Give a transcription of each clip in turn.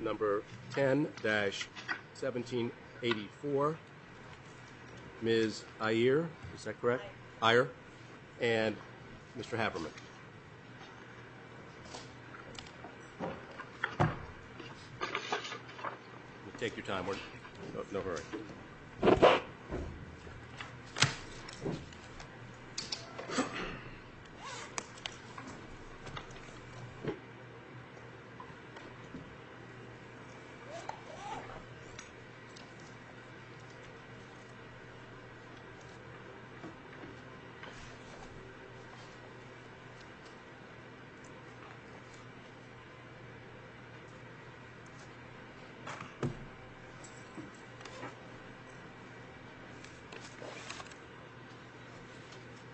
Number 10-1784, Ms. Ayer, is that correct? Ayer. And Mr. Haberman. Take your time, we're in no hurry.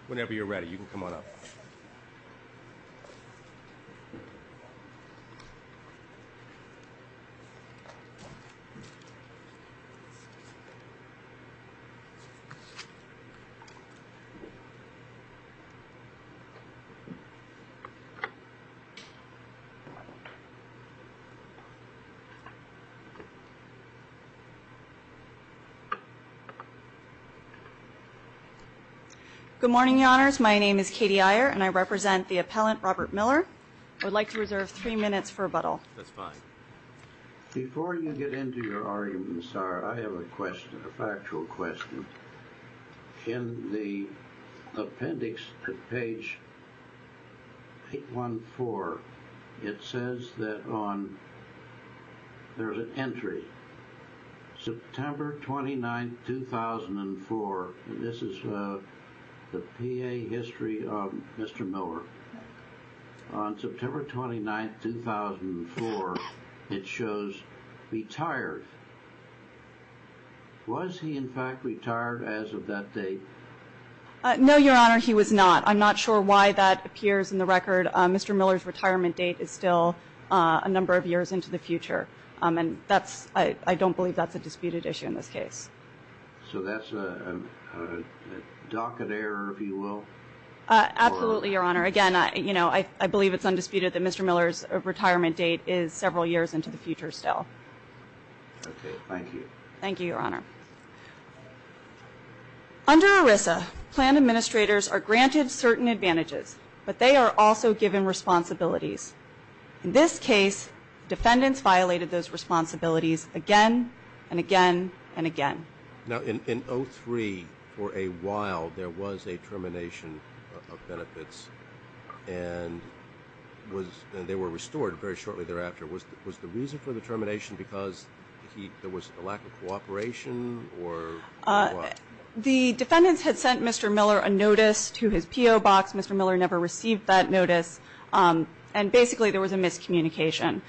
Whenever you're ready, you can come on up. Good morning, your honors. My name is Katie Ayer and I represent the appellant Robert Miller. I would like to reserve three minutes for rebuttal. That's fine. Before you get into your arguments, sir, I have a question, a factual question. In the appendix at page 814, it says that on, there's an entry, September 29, 2004, and this is the PA history of Mr. Miller. On September 29, 2004, it shows retired. Was he, in fact, retired as of that date? No, your honor, he was not. I'm not sure why that appears in the record. Mr. Miller's retirement date is still a number of years into the future. And that's, I don't believe that's a disputed issue in this case. So that's a docket error, if you will? Absolutely, your honor. Again, I believe it's undisputed that Mr. Miller's retirement date is several years into the future still. Okay, thank you. Thank you, your honor. Under ERISA, planned administrators are granted certain advantages, but they are also given responsibilities. In this case, defendants violated those responsibilities again and again and again. Now, in 03, for a while, there was a termination of benefits, and they were restored very shortly thereafter. Was the reason for the termination because there was a lack of cooperation or what? The defendants had sent Mr. Miller a notice to his PO box. Mr. Miller never received that notice. And basically, there was a miscommunication.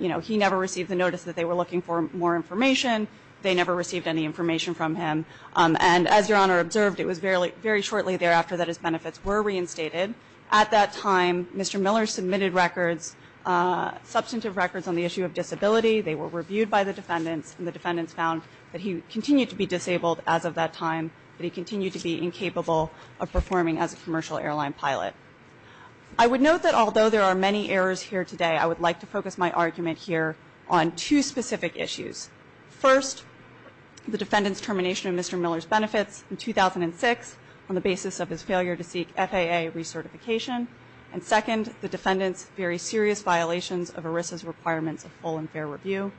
You know, he never received the notice that they were looking for more information. They never received any information from him. And as your honor observed, it was very shortly thereafter that his benefits were reinstated. At that time, Mr. Miller submitted records, substantive records on the issue of disability. They were reviewed by the defendants, and the defendants found that he continued to be disabled as of that time, that he continued to be incapable of performing as a commercial airline pilot. I would note that although there are many errors here today, I would like to focus my argument here on two specific issues. First, the defendants' termination of Mr. Miller's benefits in 2006 on the basis of his failure to seek FAA recertification. And second, the defendants' very serious violations of ERISA's requirements of full and fair review.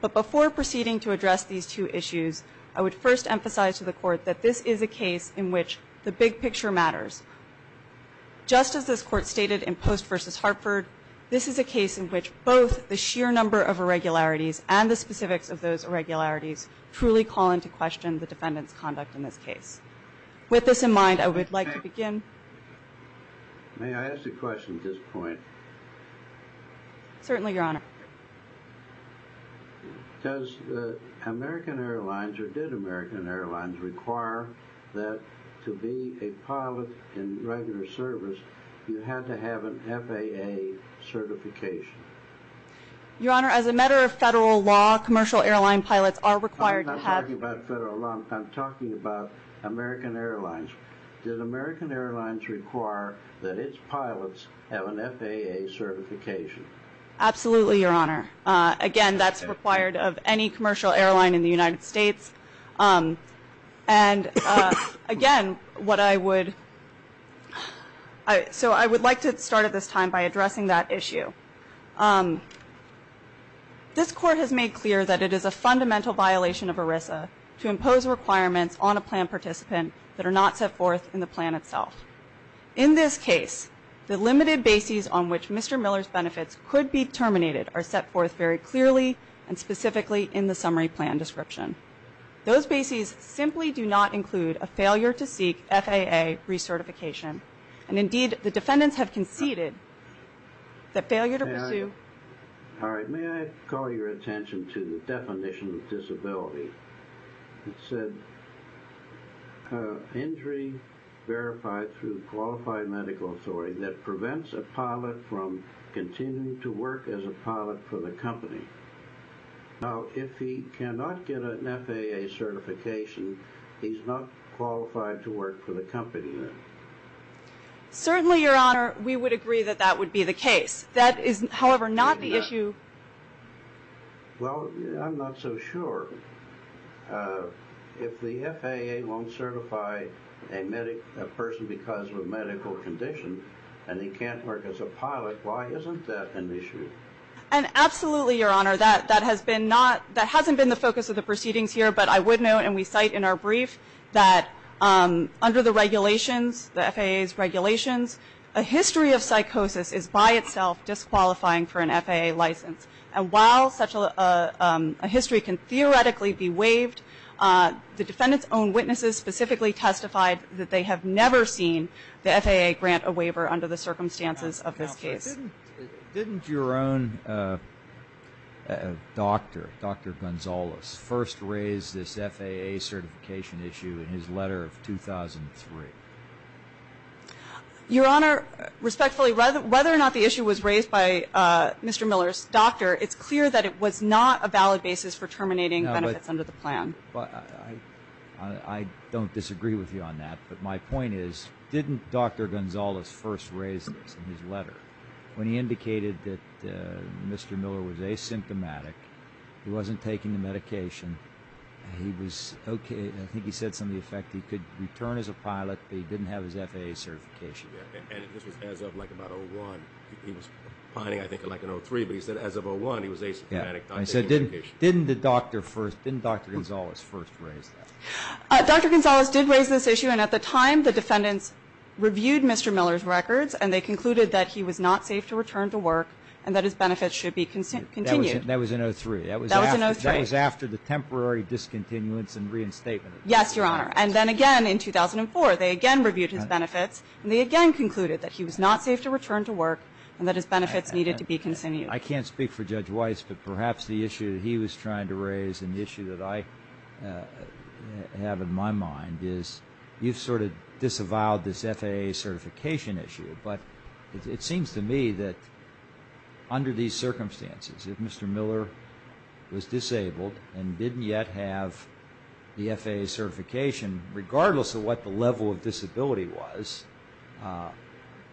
But before proceeding to address these two issues, I would first emphasize to the Court that this is a case in which the big picture matters. Just as this Court stated in Post v. Hartford, this is a case in which both the sheer number of irregularities and the specifics of those irregularities truly call into question the defendant's conduct in this case. With this in mind, I would like to begin. May I ask a question at this point? Certainly, Your Honor. Does American Airlines, or did American Airlines, require that to be a pilot in regular service, you had to have an FAA certification? Your Honor, as a matter of federal law, commercial airline pilots are required to have... I'm not talking about federal law. I'm talking about American Airlines. Does American Airlines require that its pilots have an FAA certification? Absolutely, Your Honor. Again, that's required of any commercial airline in the United States. And again, what I would... So I would like to start at this time by addressing that issue. This Court has made clear that it is a fundamental violation of ERISA to impose requirements on a plan participant that are not set forth in the plan itself. In this case, the limited bases on which Mr. Miller's benefits could be terminated are set forth very clearly and specifically in the summary plan description. Those bases simply do not include a failure to seek FAA recertification. And indeed, the defendants have conceded that failure to pursue... It said injury verified through qualified medical authority that prevents a pilot from continuing to work as a pilot for the company. Now, if he cannot get an FAA certification, he's not qualified to work for the company then. Certainly, Your Honor, we would agree that that would be the case. That is, however, not the issue... Well, I'm not so sure. If the FAA won't certify a person because of a medical condition and he can't work as a pilot, why isn't that an issue? And absolutely, Your Honor. That hasn't been the focus of the proceedings here, but I would note, and we cite in our brief, that under the regulations, the FAA's regulations, a history of psychosis is by itself disqualifying for an FAA license. And while such a history can theoretically be waived, the defendants' own witnesses specifically testified that they have never seen the FAA grant a waiver under the circumstances of this case. Counselor, didn't your own doctor, Dr. Gonzales, first raise this FAA certification issue in his letter of 2003? Your Honor, respectfully, whether or not the issue was raised by Mr. Miller's doctor, it's clear that it was not a valid basis for terminating benefits under the plan. I don't disagree with you on that, but my point is, didn't Dr. Gonzales first raise this in his letter when he indicated that Mr. Miller was asymptomatic, he wasn't taking the medication, he was okay? I think he said something to the effect that he could return as a pilot, but he didn't have his FAA certification yet. And this was as of, like, about 2001. He was piloting, I think, like in 2003, but he said as of 2001, he was asymptomatic. I said, didn't the doctor first, didn't Dr. Gonzales first raise that? Dr. Gonzales did raise this issue, and at the time, the defendants reviewed Mr. Miller's records, and they concluded that he was not safe to return to work and that his benefits should be continued. That was in 03. That was in 03. That was after the temporary discontinuance and reinstatement. Yes, Your Honor. And then again in 2004, they again reviewed his benefits, and they again concluded that he was not safe to return to work and that his benefits needed to be continued. I can't speak for Judge Weiss, but perhaps the issue that he was trying to raise and the issue that I have in my mind is you've sort of disavowed this FAA certification issue, but it seems to me that under these circumstances, if Mr. Miller was disabled and didn't yet have the FAA certification, regardless of what the level of disability was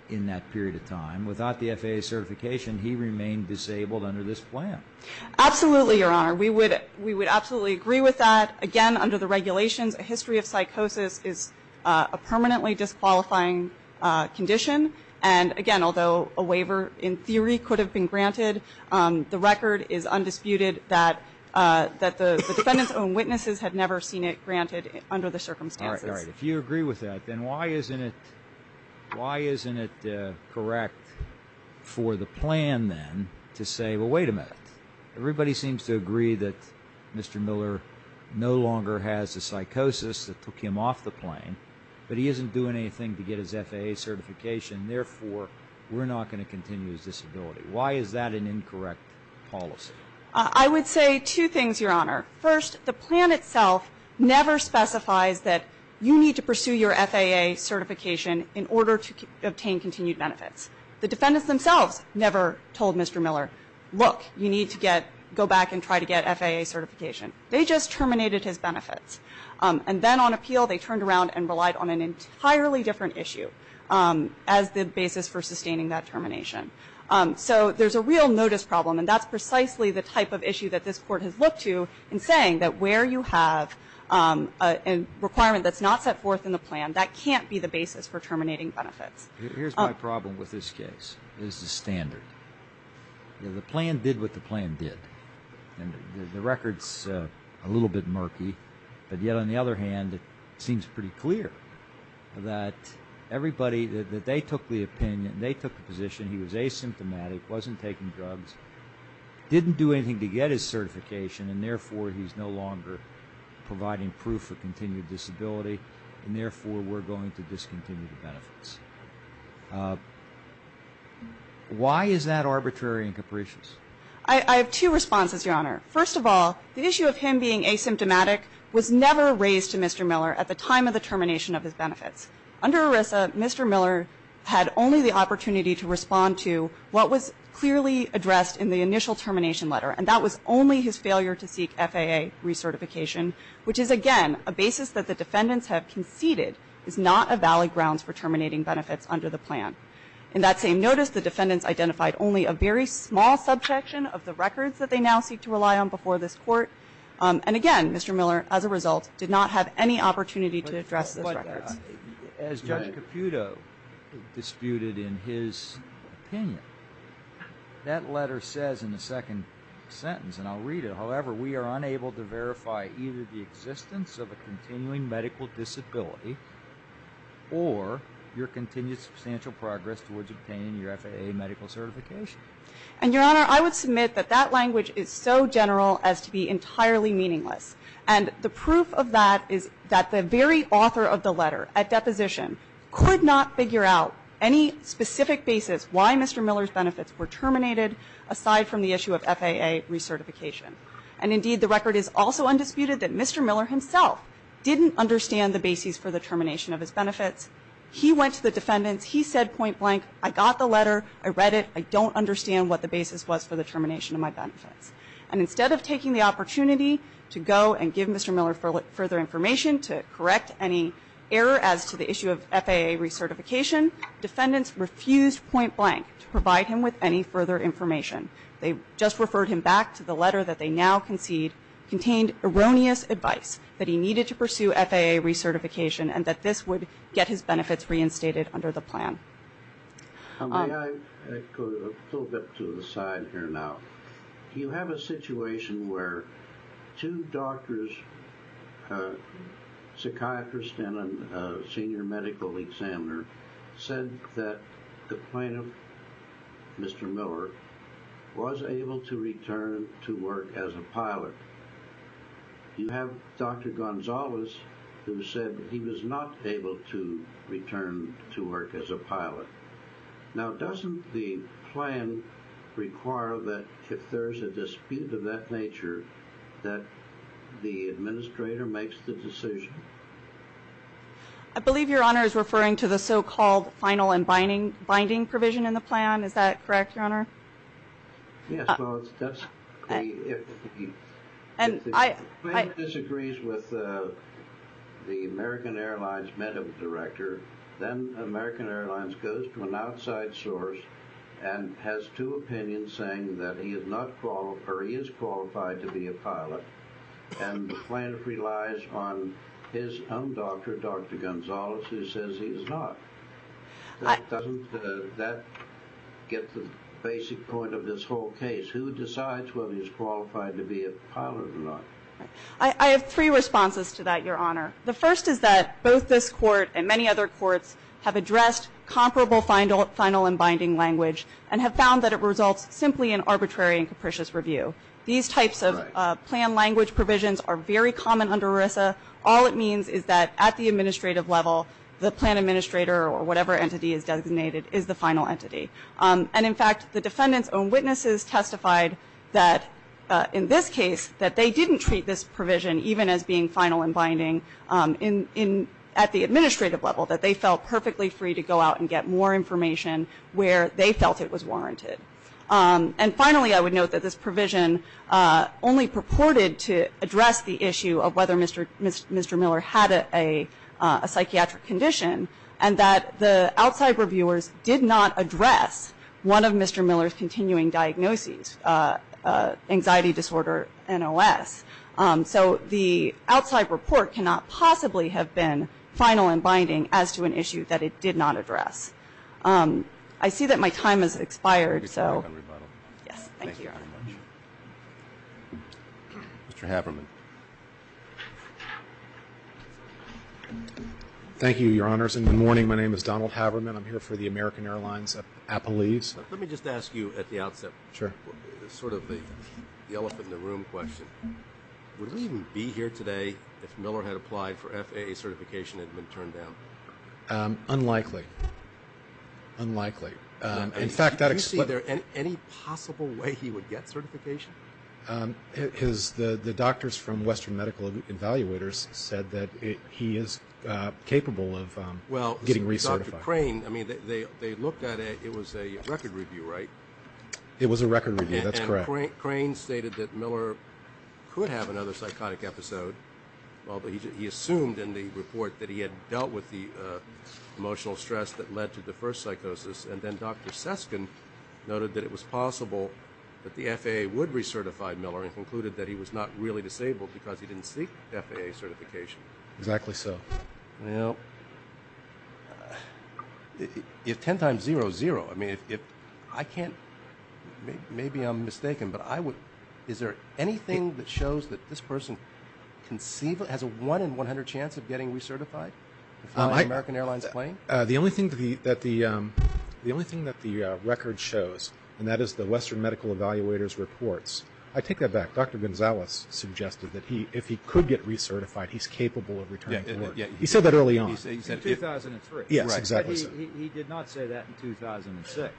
in that period of time, without the FAA certification, he remained disabled under this plan. Absolutely, Your Honor. We would absolutely agree with that. Again, under the regulations, a history of psychosis is a permanently disqualifying condition, and again, although a waiver in theory could have been granted, the record is undisputed that the defendants' own witnesses had never seen it granted under the circumstances. All right, all right. If you agree with that, then why isn't it correct for the plan then to say, well, wait a minute, everybody seems to agree that Mr. Miller no longer has the psychosis that took him off the plane, but he isn't doing anything to get his FAA certification, therefore we're not going to continue his disability. Why is that an incorrect policy? I would say two things, Your Honor. First, the plan itself never specifies that you need to pursue your FAA certification in order to obtain continued benefits. The defendants themselves never told Mr. Miller, look, you need to go back and try to get FAA certification. They just terminated his benefits. And then on appeal they turned around and relied on an entirely different issue as the basis for sustaining that termination. So there's a real notice problem, and that's precisely the type of issue that this Court has looked to in saying that where you have a requirement that's not set forth in the plan, that can't be the basis for terminating benefits. Here's my problem with this case. This is standard. The plan did what the plan did, and the record's a little bit murky. But yet on the other hand, it seems pretty clear that everybody that they took the opinion, they took the position he was asymptomatic, wasn't taking drugs, didn't do anything to get his certification, and therefore he's no longer providing proof of continued disability, and therefore we're going to discontinue the benefits. Why is that arbitrary and capricious? I have two responses, Your Honor. First of all, the issue of him being asymptomatic was never raised to Mr. Miller at the time of the termination of his benefits. Under ERISA, Mr. Miller had only the opportunity to respond to what was clearly addressed in the initial termination letter, and that was only his failure to seek FAA recertification, which is again a basis that the defendants have conceded is not a valid grounds for terminating benefits under the plan. In that same notice, the defendants identified only a very small subsection of the records that they now seek to rely on before this Court. And again, Mr. Miller, as a result, did not have any opportunity to address those records. As Judge Caputo disputed in his opinion, that letter says in the second sentence, and I'll read it, however, we are unable to verify either the existence of a continuing medical disability or your continued substantial progress towards obtaining your FAA medical certification. And, Your Honor, I would submit that that language is so general as to be entirely meaningless. And the proof of that is that the very author of the letter at deposition could not figure out any specific basis why Mr. Miller's benefits were terminated, aside from the issue of FAA recertification. And indeed, the record is also undisputed that Mr. Miller himself didn't understand the basis for the termination of his benefits. He went to the defendants. He said point blank, I got the letter, I read it, I don't understand what the basis was for the termination of my benefits. And instead of taking the opportunity to go and give Mr. Miller further information to correct any error as to the issue of FAA recertification, defendants refused point blank to provide him with any further information. They just referred him back to the letter that they now concede contained erroneous advice that he needed to pursue FAA recertification and that this would get his benefits reinstated under the plan. May I go a little bit to the side here now? You have a situation where two doctors, a psychiatrist and a senior medical examiner, said that the plaintiff, Mr. Miller, was able to return to work as a pilot. You have Dr. Gonzalez who said that he was not able to return to work as a pilot. Now doesn't the plan require that if there is a dispute of that nature that the administrator makes the decision? I believe Your Honor is referring to the so-called final and binding provision in the plan. Is that correct, Your Honor? Yes. If the plaintiff disagrees with the American Airlines medical director, then American Airlines goes to an outside source and has two opinions saying that he is qualified to be a pilot and the plaintiff relies on his own doctor, Dr. Gonzalez, who says he is not. Doesn't that get to the basic point of this whole case? Who decides whether he is qualified to be a pilot or not? I have three responses to that, Your Honor. The first is that both this court and many other courts have addressed comparable final and binding language and have found that it results simply in arbitrary and capricious review. These types of plan language provisions are very common under ERISA. All it means is that at the administrative level, the plan administrator or whatever entity is designated is the final entity. In fact, the defendant's own witnesses testified that in this case that they didn't treat this provision even as being final and binding at the administrative level, that they felt perfectly free to go out and get more information where they felt it was warranted. Finally, I would note that this provision only purported to address the issue of whether Mr. Miller had a psychiatric condition and that the outside reviewers did not address one of Mr. Miller's continuing diagnoses, anxiety disorder, NOS. So the outside report cannot possibly have been final and binding as to an issue that it did not address. I see that my time has expired. Thank you very much. Mr. Haverman. Thank you, Your Honors, and good morning. My name is Donald Haverman. I'm here for the American Airlines Appellees. Let me just ask you at the outset sort of the elephant in the room question. Would we even be here today if Miller had applied for FAA certification and had been turned down? Unlikely. Unlikely. Did you see any possible way he would get certification? Because the doctors from Western Medical Evaluators said that he is capable of getting recertified. Well, Dr. Crane, I mean, they looked at it. It was a record review, right? It was a record review. That's correct. And Crane stated that Miller could have another psychotic episode. He assumed in the report that he had dealt with the emotional stress that led to the first psychosis, and then Dr. Seskin noted that it was possible that the FAA would recertify Miller and concluded that he was not really disabled because he didn't seek FAA certification. Exactly so. Well, if 10 times 0 is 0, I mean, if I can't – maybe I'm mistaken, but is there anything that shows that this person has a 1 in 100 chance of getting recertified? The American Airlines plane? The only thing that the record shows, and that is the Western Medical Evaluators reports, I take that back. Dr. Gonzalez suggested that if he could get recertified, he's capable of returning to work. He said that early on. In 2003. Yes, exactly so. He did not say that in 2006.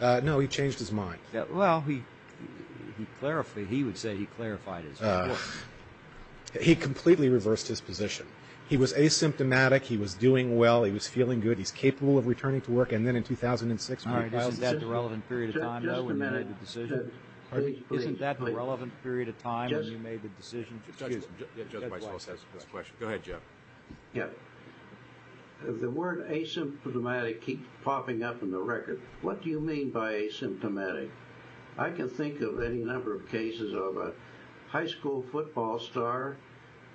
No, he changed his mind. Well, he would say he clarified his report. He completely reversed his position. He was asymptomatic. He was doing well. He was feeling good. He's capable of returning to work. And then in 2006, when he filed his decision. Isn't that the relevant period of time, though, when you made the decision? Isn't that the relevant period of time when you made the decision? Excuse me. Go ahead, Jeff. Yeah. The word asymptomatic keeps popping up in the record. What do you mean by asymptomatic? I can think of any number of cases of a high school football star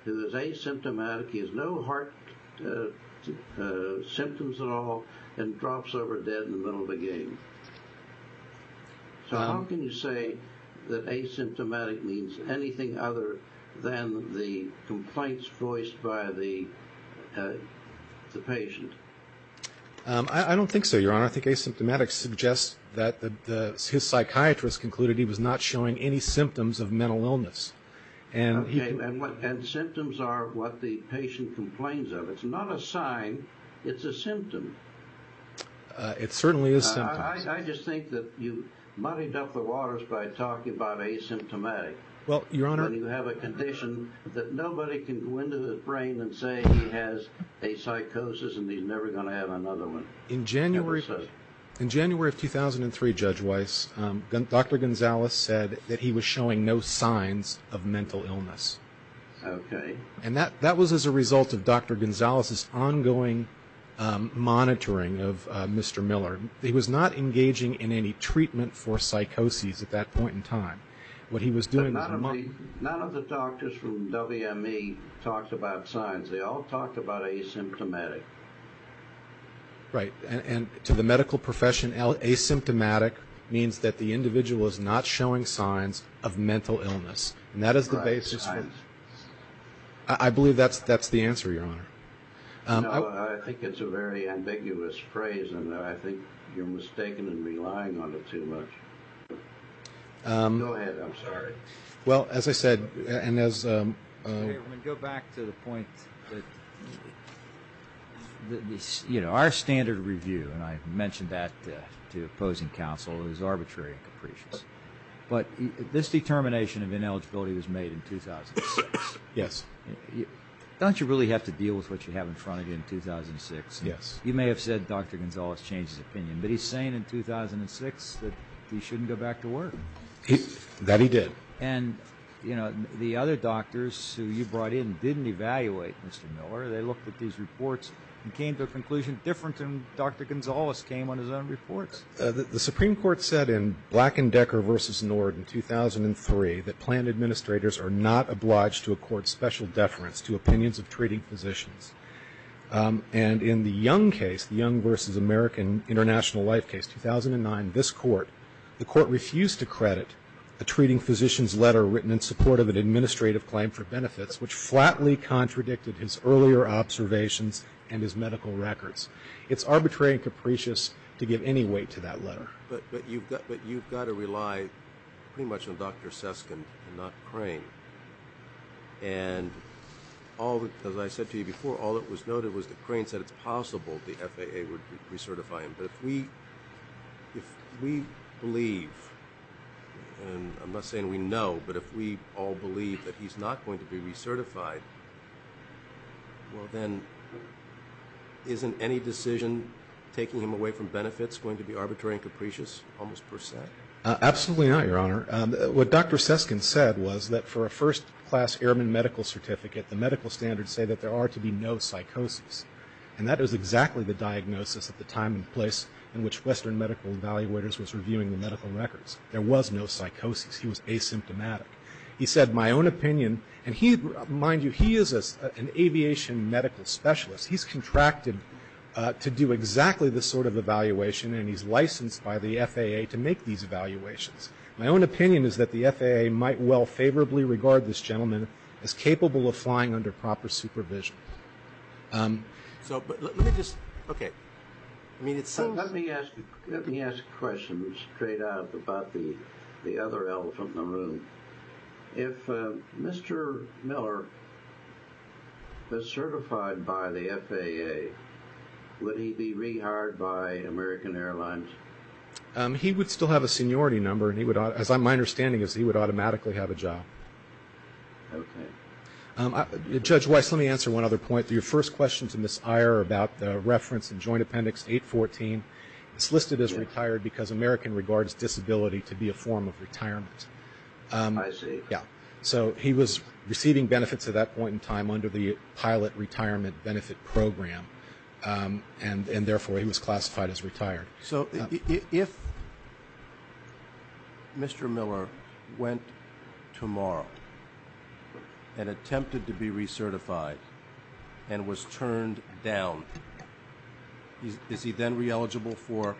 who is asymptomatic. He has no heart symptoms at all and drops over dead in the middle of a game. So how can you say that asymptomatic means anything other than the complaints voiced by the patient? I don't think so, Your Honor. I think asymptomatic suggests that his psychiatrist concluded he was not showing any symptoms of mental illness. Okay. And symptoms are what the patient complains of. It's not a sign. It's a symptom. It certainly is symptoms. I just think that you muddied up the waters by talking about asymptomatic. Well, Your Honor. When you have a condition that nobody can go into the brain and say he has a psychosis and he's never going to have another one. In January of 2003, Judge Weiss, Dr. Gonzalez said that he was showing no signs of mental illness. Okay. And that was as a result of Dr. Gonzalez's ongoing monitoring of Mr. Miller. He was not engaging in any treatment for psychosis at that point in time. What he was doing was monitoring. None of the doctors from WME talked about signs. They all talked about asymptomatic. Right. And to the medical profession, asymptomatic means that the individual is not showing signs of mental illness. And that is the basis. Right. Signs. I believe that's the answer, Your Honor. No, I think it's a very ambiguous phrase, and I think you're mistaken and relying on it too much. Go ahead. I'm sorry. Well, as I said, and as — Okay, I'm going to go back to the point that our standard review, and I mentioned that to opposing counsel, is arbitrary and capricious. But this determination of ineligibility was made in 2006. Yes. Don't you really have to deal with what you have in front of you in 2006? Yes. You may have said Dr. Gonzalez changed his opinion, but he's saying in 2006 that he shouldn't go back to work. That he did. And, you know, the other doctors who you brought in didn't evaluate Mr. Miller. They looked at these reports and came to a conclusion different than Dr. Gonzalez came on his own reports. The Supreme Court said in Black and Decker v. Nord in 2003 that plant administrators are not obliged to accord special deference to opinions of treating physicians. And in the Young case, the Young v. American International Life case, 2009, this court, the court refused to credit a treating physician's letter written in support of an administrative claim for benefits, which flatly contradicted his earlier observations and his medical records. It's arbitrary and capricious to give any weight to that letter. But you've got to rely pretty much on Dr. Suskind and not Crane. And as I said to you before, all that was noted was that Crane said it's possible the FAA would recertify him. But if we believe, and I'm not saying we know, but if we all believe that he's not going to be recertified, well, then isn't any decision taking him away from benefits going to be arbitrary and capricious almost per se? Absolutely not, Your Honor. What Dr. Suskind said was that for a first-class airman medical certificate, the medical standards say that there are to be no psychoses. And that is exactly the diagnosis at the time and place in which Western Medical Evaluators was reviewing the medical records. There was no psychoses. He was asymptomatic. He said, my own opinion, and mind you, he is an aviation medical specialist. He's contracted to do exactly this sort of evaluation, and he's licensed by the FAA to make these evaluations. My own opinion is that the FAA might well favorably regard this gentleman as capable of flying under proper supervision. So let me just, okay. Let me ask a question straight out about the other elephant in the room. If Mr. Miller was certified by the FAA, would he be rehired by American Airlines? He would still have a seniority number, and my understanding is he would automatically have a job. Okay. Judge Weiss, let me answer one other point. Your first question to Ms. Iyer about the reference in Joint Appendix 814, it's listed as retired because American regards disability to be a form of retirement. I see. Yeah. So he was receiving benefits at that point in time under the Pilot Retirement Benefit Program, and therefore he was classified as retired. So if Mr. Miller went tomorrow and attempted to be recertified and was turned down, is he then re-eligible for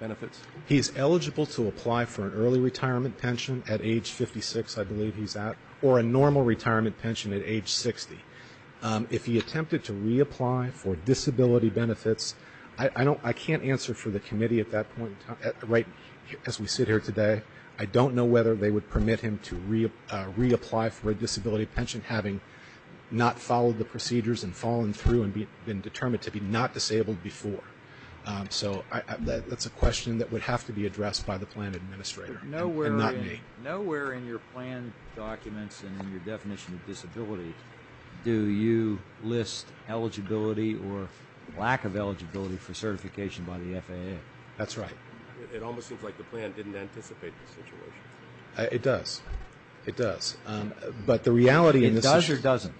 benefits? He is eligible to apply for an early retirement pension at age 56, I believe he's at, or a normal retirement pension at age 60. If he attempted to reapply for disability benefits, I can't answer for the committee at that point in time, as we sit here today, I don't know whether they would permit him to reapply for a disability pension, having not followed the procedures and fallen through and been determined to be not disabled before. So that's a question that would have to be addressed by the plan administrator and not me. Nowhere in your plan documents and in your definition of disability do you list eligibility or lack of eligibility for certification by the FAA. That's right. It almost seems like the plan didn't anticipate this situation. It does. It does. It does or doesn't?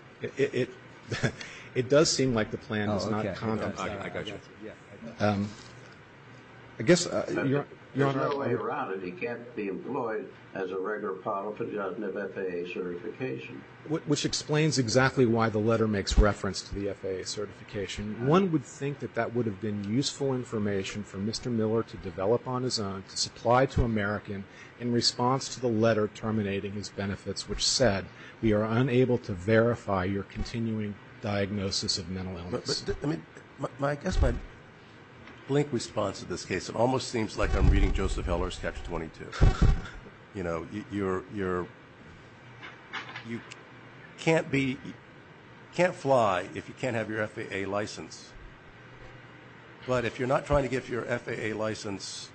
It does seem like the plan is not content. I got you. There's no way around it. He can't be employed as a regular pilot for the FAA certification. Which explains exactly why the letter makes reference to the FAA certification. One would think that that would have been useful information for Mr. Miller to develop on his own, to supply to American in response to the letter terminating his benefits, which said we are unable to verify your continuing diagnosis of mental illness. I guess my blink response to this case, it almost seems like I'm reading Joseph Heller's Catch-22. You know, you can't fly if you can't have your FAA license. But if you're not trying to get your FAA license,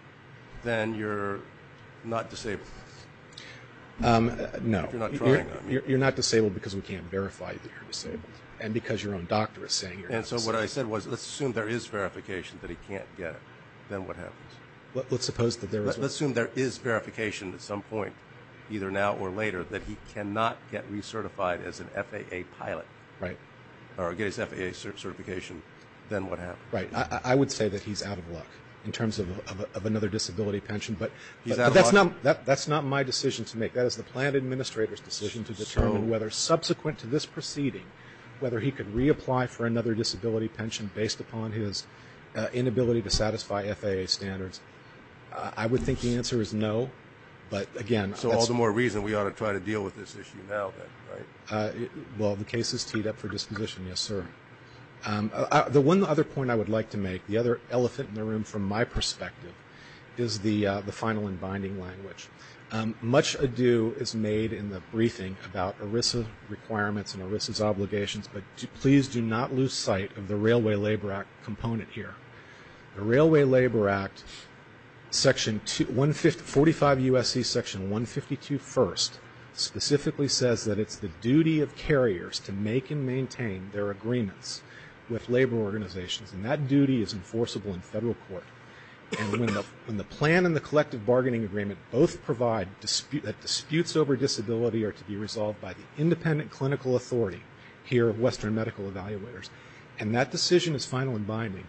then you're not disabled. No. If you're not trying, I mean. You're not disabled because we can't verify that you're disabled and because your own doctor is saying you're disabled. And so what I said was let's assume there is verification that he can't get it. Then what happens? Let's suppose that there is what? Let's assume there is verification at some point, either now or later, that he cannot get recertified as an FAA pilot. Right. Or get his FAA certification. Then what happens? Right. I would say that he's out of luck in terms of another disability pension. But that's not my decision to make. That is the plan administrator's decision to determine whether, subsequent to this proceeding, whether he could reapply for another disability pension based upon his inability to satisfy FAA standards. I would think the answer is no. So all the more reason we ought to try to deal with this issue now. Well, the case is teed up for disposition, yes, sir. The one other point I would like to make, the other elephant in the room from my perspective, is the final and binding language. Much ado is made in the briefing about ERISA requirements and ERISA's obligations, but please do not lose sight of the Railway Labor Act component here. The Railway Labor Act, 45 U.S.C. section 152 first, specifically says that it's the duty of carriers to make and maintain their agreements with labor organizations. And that duty is enforceable in federal court. And when the plan and the collective bargaining agreement both provide that disputes over disability are to be resolved by the independent clinical authority here of Western Medical Evaluators, and that decision is final and binding,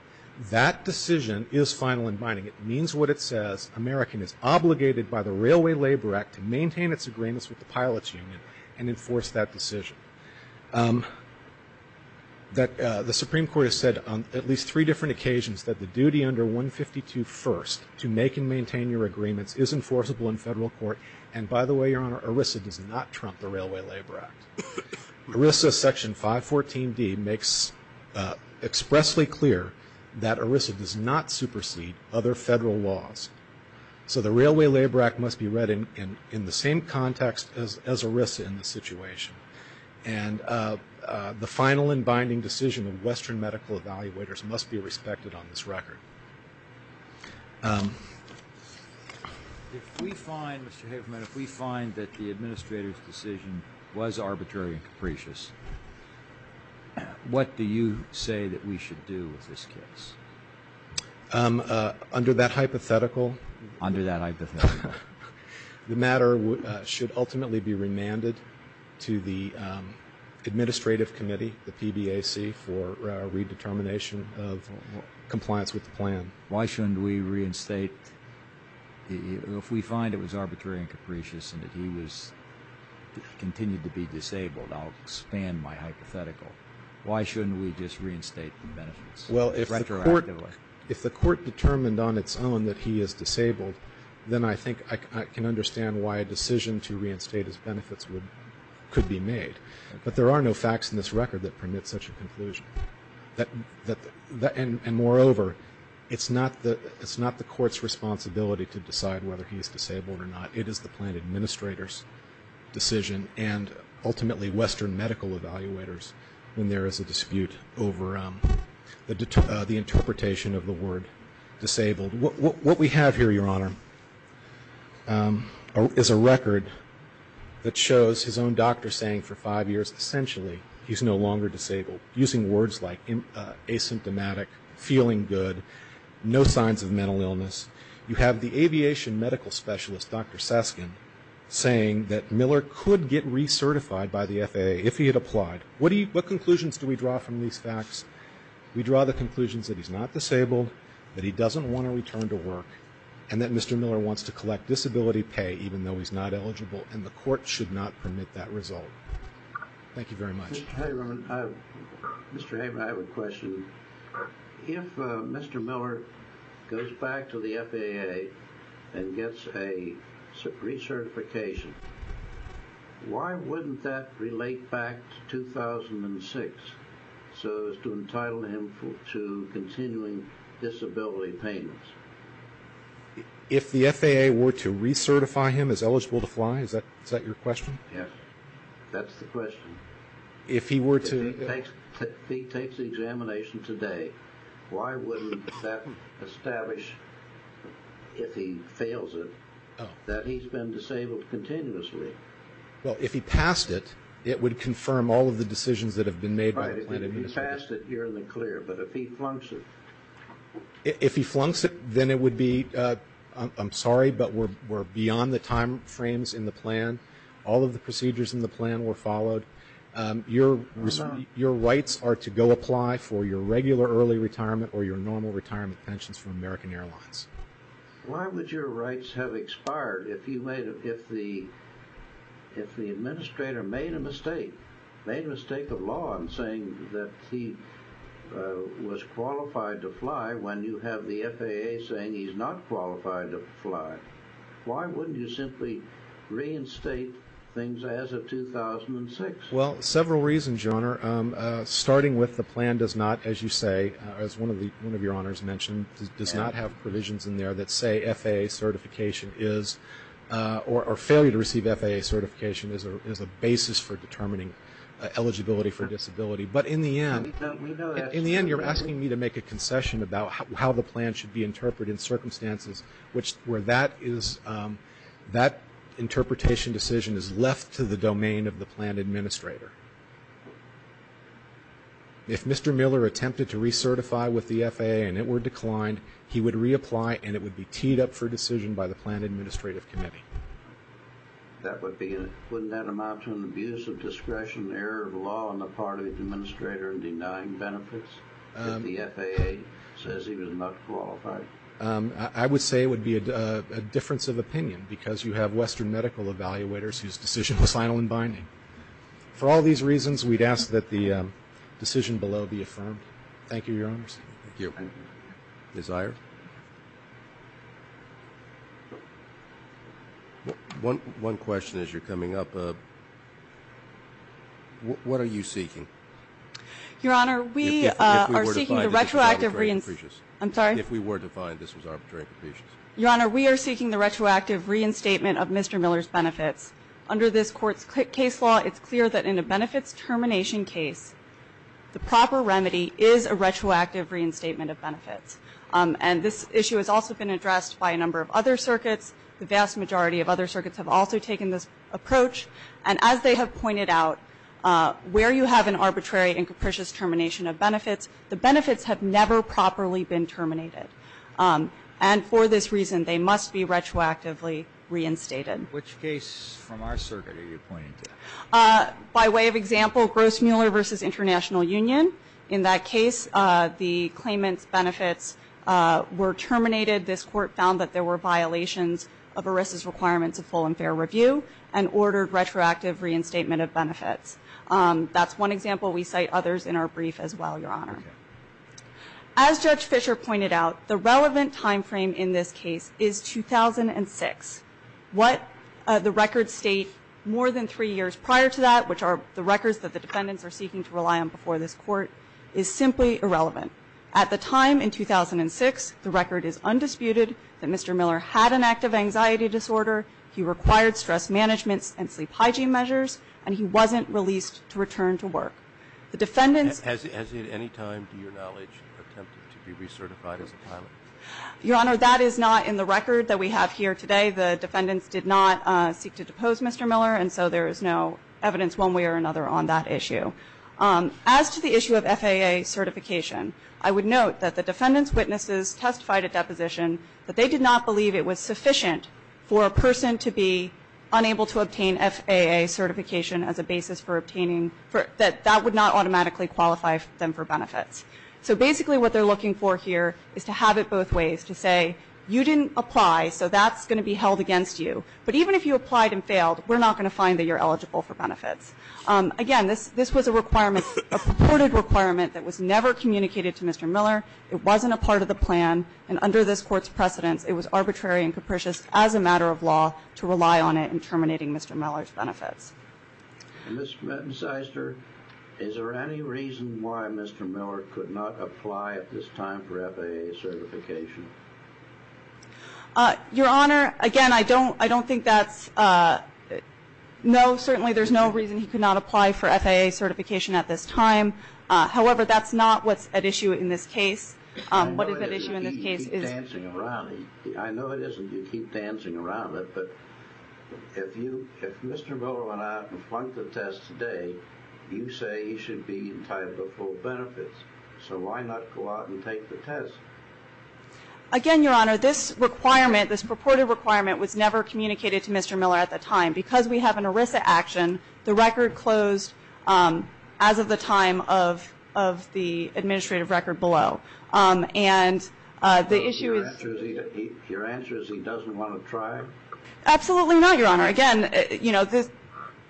that decision is final and binding. It means what it says. American is obligated by the Railway Labor Act to maintain its agreements with the pilots union and enforce that decision. The Supreme Court has said on at least three different occasions that the section 152 first to make and maintain your agreements is enforceable in federal court. And by the way, Your Honor, ERISA does not trump the Railway Labor Act. ERISA section 514D makes expressly clear that ERISA does not supersede other federal laws. So the Railway Labor Act must be read in the same context as ERISA in this situation. And the final and binding decision of Western Medical Evaluators must be If we find, Mr. Haverman, if we find that the administrator's decision was arbitrary and capricious, what do you say that we should do with this case? Under that hypothetical. Under that hypothetical. The matter should ultimately be remanded to the administrative committee, the PBAC, for redetermination of compliance with the plan. Why shouldn't we reinstate? If we find it was arbitrary and capricious and that he was continued to be disabled, I'll expand my hypothetical. Why shouldn't we just reinstate the benefits retroactively? Well, if the court determined on its own that he is disabled, then I think I can understand why a decision to reinstate his benefits could be made. But there are no facts in this record that permit such a conclusion. And moreover, it's not the court's responsibility to decide whether he is disabled or not. It is the plan administrator's decision and ultimately Western Medical Evaluators when there is a dispute over the interpretation of the word disabled. What we have here, Your Honor, is a record that shows his own doctor saying for five years, essentially, he's no longer disabled. Using words like asymptomatic, feeling good, no signs of mental illness. You have the aviation medical specialist, Dr. Saskin, saying that Miller could get recertified by the FAA if he had applied. What conclusions do we draw from these facts? We draw the conclusions that he's not disabled, that he doesn't want to return to work, and that Mr. Miller wants to collect disability pay even though he's not disabled. Thank you very much. Mr. Heyman, I have a question. If Mr. Miller goes back to the FAA and gets a recertification, why wouldn't that relate back to 2006 so as to entitle him to continuing disability payments? If the FAA were to recertify him as eligible to fly? Is that your question? Yes, that's the question. If he takes the examination today, why wouldn't that establish, if he fails it, that he's been disabled continuously? Well, if he passed it, it would confirm all of the decisions that have been made by the plan. If he passed it, you're in the clear. But if he flunks it? If he flunks it, then it would be, I'm sorry, but we're beyond the time frames in the plan. All of the procedures in the plan were followed. Your rights are to go apply for your regular early retirement or your normal retirement pensions from American Airlines. Why would your rights have expired if the administrator made a mistake, made a mistake of law in saying that he was qualified to fly when you have the FAA saying he's not qualified to fly? Why wouldn't you simply reinstate things as of 2006? Well, several reasons, Your Honor. Starting with the plan does not, as you say, as one of your honors mentioned, does not have provisions in there that say FAA certification is or failure to receive FAA certification is a basis for determining eligibility for disability. But in the end, you're asking me to make a concession about how the plan should be interpreted in circumstances where that interpretation decision is left to the domain of the plan administrator. If Mr. Miller attempted to recertify with the FAA and it were declined, he would reapply and it would be teed up for decision by the plan administrative committee. Wouldn't that amount to an abuse of discretion, error of law on the part of the administrator in denying benefits if the FAA says he was not qualified? I would say it would be a difference of opinion because you have Western medical evaluators whose decision is final and binding. For all these reasons, we'd ask that the decision below be affirmed. Thank you, Your Honors. Thank you. Ms. Iyer? One question as you're coming up. What are you seeking? Your Honor, we are seeking the retroactive re- I'm sorry? If we were to find this was arbitrary and capricious. Your Honor, we are seeking the retroactive reinstatement of Mr. Miller's benefits. Under this Court's case law, it's clear that in a benefits termination case, the proper remedy is a retroactive reinstatement of benefits. And this issue has also been addressed by a number of other circuits. The vast majority of other circuits have also taken this approach. And as they have pointed out, where you have an arbitrary and capricious termination of benefits, the benefits have never properly been terminated. And for this reason, they must be retroactively reinstated. Which case from our circuit are you pointing to? By way of example, Gross-Muller v. International Union. In that case, the claimant's benefits were terminated. This Court found that there were violations of ERISA's requirements of full and fair review and ordered retroactive reinstatement of benefits. That's one example. We cite others in our brief as well, Your Honor. As Judge Fischer pointed out, the relevant timeframe in this case is 2006. What the records state more than three years prior to that, which are the records that the defendants are seeking to rely on before this Court, is simply irrelevant. At the time in 2006, the record is undisputed that Mr. Miller had an active anxiety disorder, he required stress management and sleep hygiene measures, and he wasn't released to return to work. Has he at any time, to your knowledge, attempted to be recertified as a pilot? Your Honor, that is not in the record that we have here today. The defendants did not seek to depose Mr. Miller, and so there is no evidence one way or another on that issue. As to the issue of FAA certification, I would note that the defendants' witnesses testified at deposition that they did not believe it was sufficient for a person to be unable to obtain FAA certification as a basis for obtaining that that would not automatically qualify them for benefits. So basically what they're looking for here is to have it both ways, to say you didn't apply, so that's going to be held against you. But even if you applied and failed, we're not going to find that you're eligible for benefits. Again, this was a requirement, a purported requirement that was never communicated to Mr. Miller. It wasn't a part of the plan. And under this Court's precedence, it was arbitrary and capricious as a matter of law to rely on it in terminating Mr. Miller's benefits. Ms. Metincyster, is there any reason why Mr. Miller could not apply at this time for FAA certification? Your Honor, again, I don't think that's no. Certainly there's no reason he could not apply for FAA certification at this time. However, that's not what's at issue in this case. I know it isn't you keep dancing around it, but if Mr. Miller went out and flunked the test today, you say he should be entitled to full benefits, so why not go out and take the test? Again, Your Honor, this requirement, this purported requirement, was never communicated to Mr. Miller at the time. Because we have an ERISA action, the record closed as of the time of the administrative record below. Your answer is he doesn't want to try? Absolutely not, Your Honor. Again,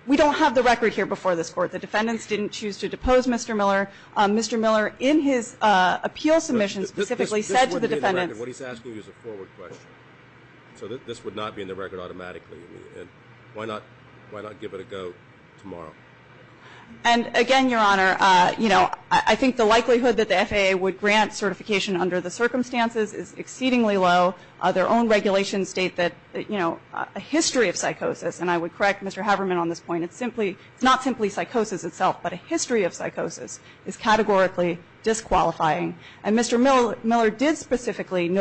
we don't have the record here before this Court. The defendants didn't choose to depose Mr. Miller. Mr. Miller, in his appeal submission specifically, said to the defendants – This would be in the record. What he's asking you is a forward question. So this would not be in the record automatically. Why not give it a go tomorrow? Again, Your Honor, I think the likelihood that the FAA would grant certification under the circumstances is exceedingly low. Their own regulations state that a history of psychosis – and I would correct Mr. Haverman on this point – it's not simply psychosis itself, but a history of psychosis is categorically disqualifying. Mr. Miller did specifically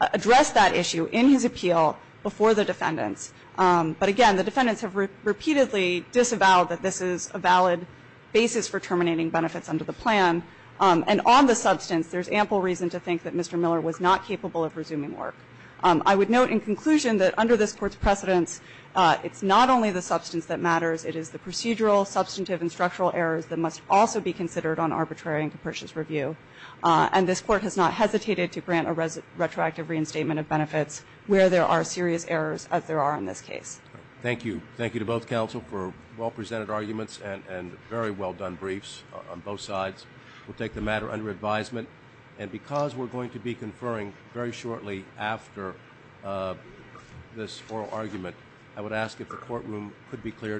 address that issue in his appeal before the defendants. But again, the defendants have repeatedly disavowed that this is a valid basis for terminating benefits under the plan. And on the substance, there's ample reason to think that Mr. Miller was not capable of resuming work. I would note in conclusion that under this Court's precedence, it's not only the substance that matters. It is the procedural, substantive, and structural errors that must also be considered on arbitrary and capricious review. And this Court has not hesitated to grant a retroactive reinstatement of benefits where there are serious errors, as there are in this case. Thank you. Thank you to both counsel for well-presented arguments and very well-done briefs on both sides. We'll take the matter under advisement. And because we're going to be conferring very shortly after this oral argument, I would ask if the courtroom could be cleared.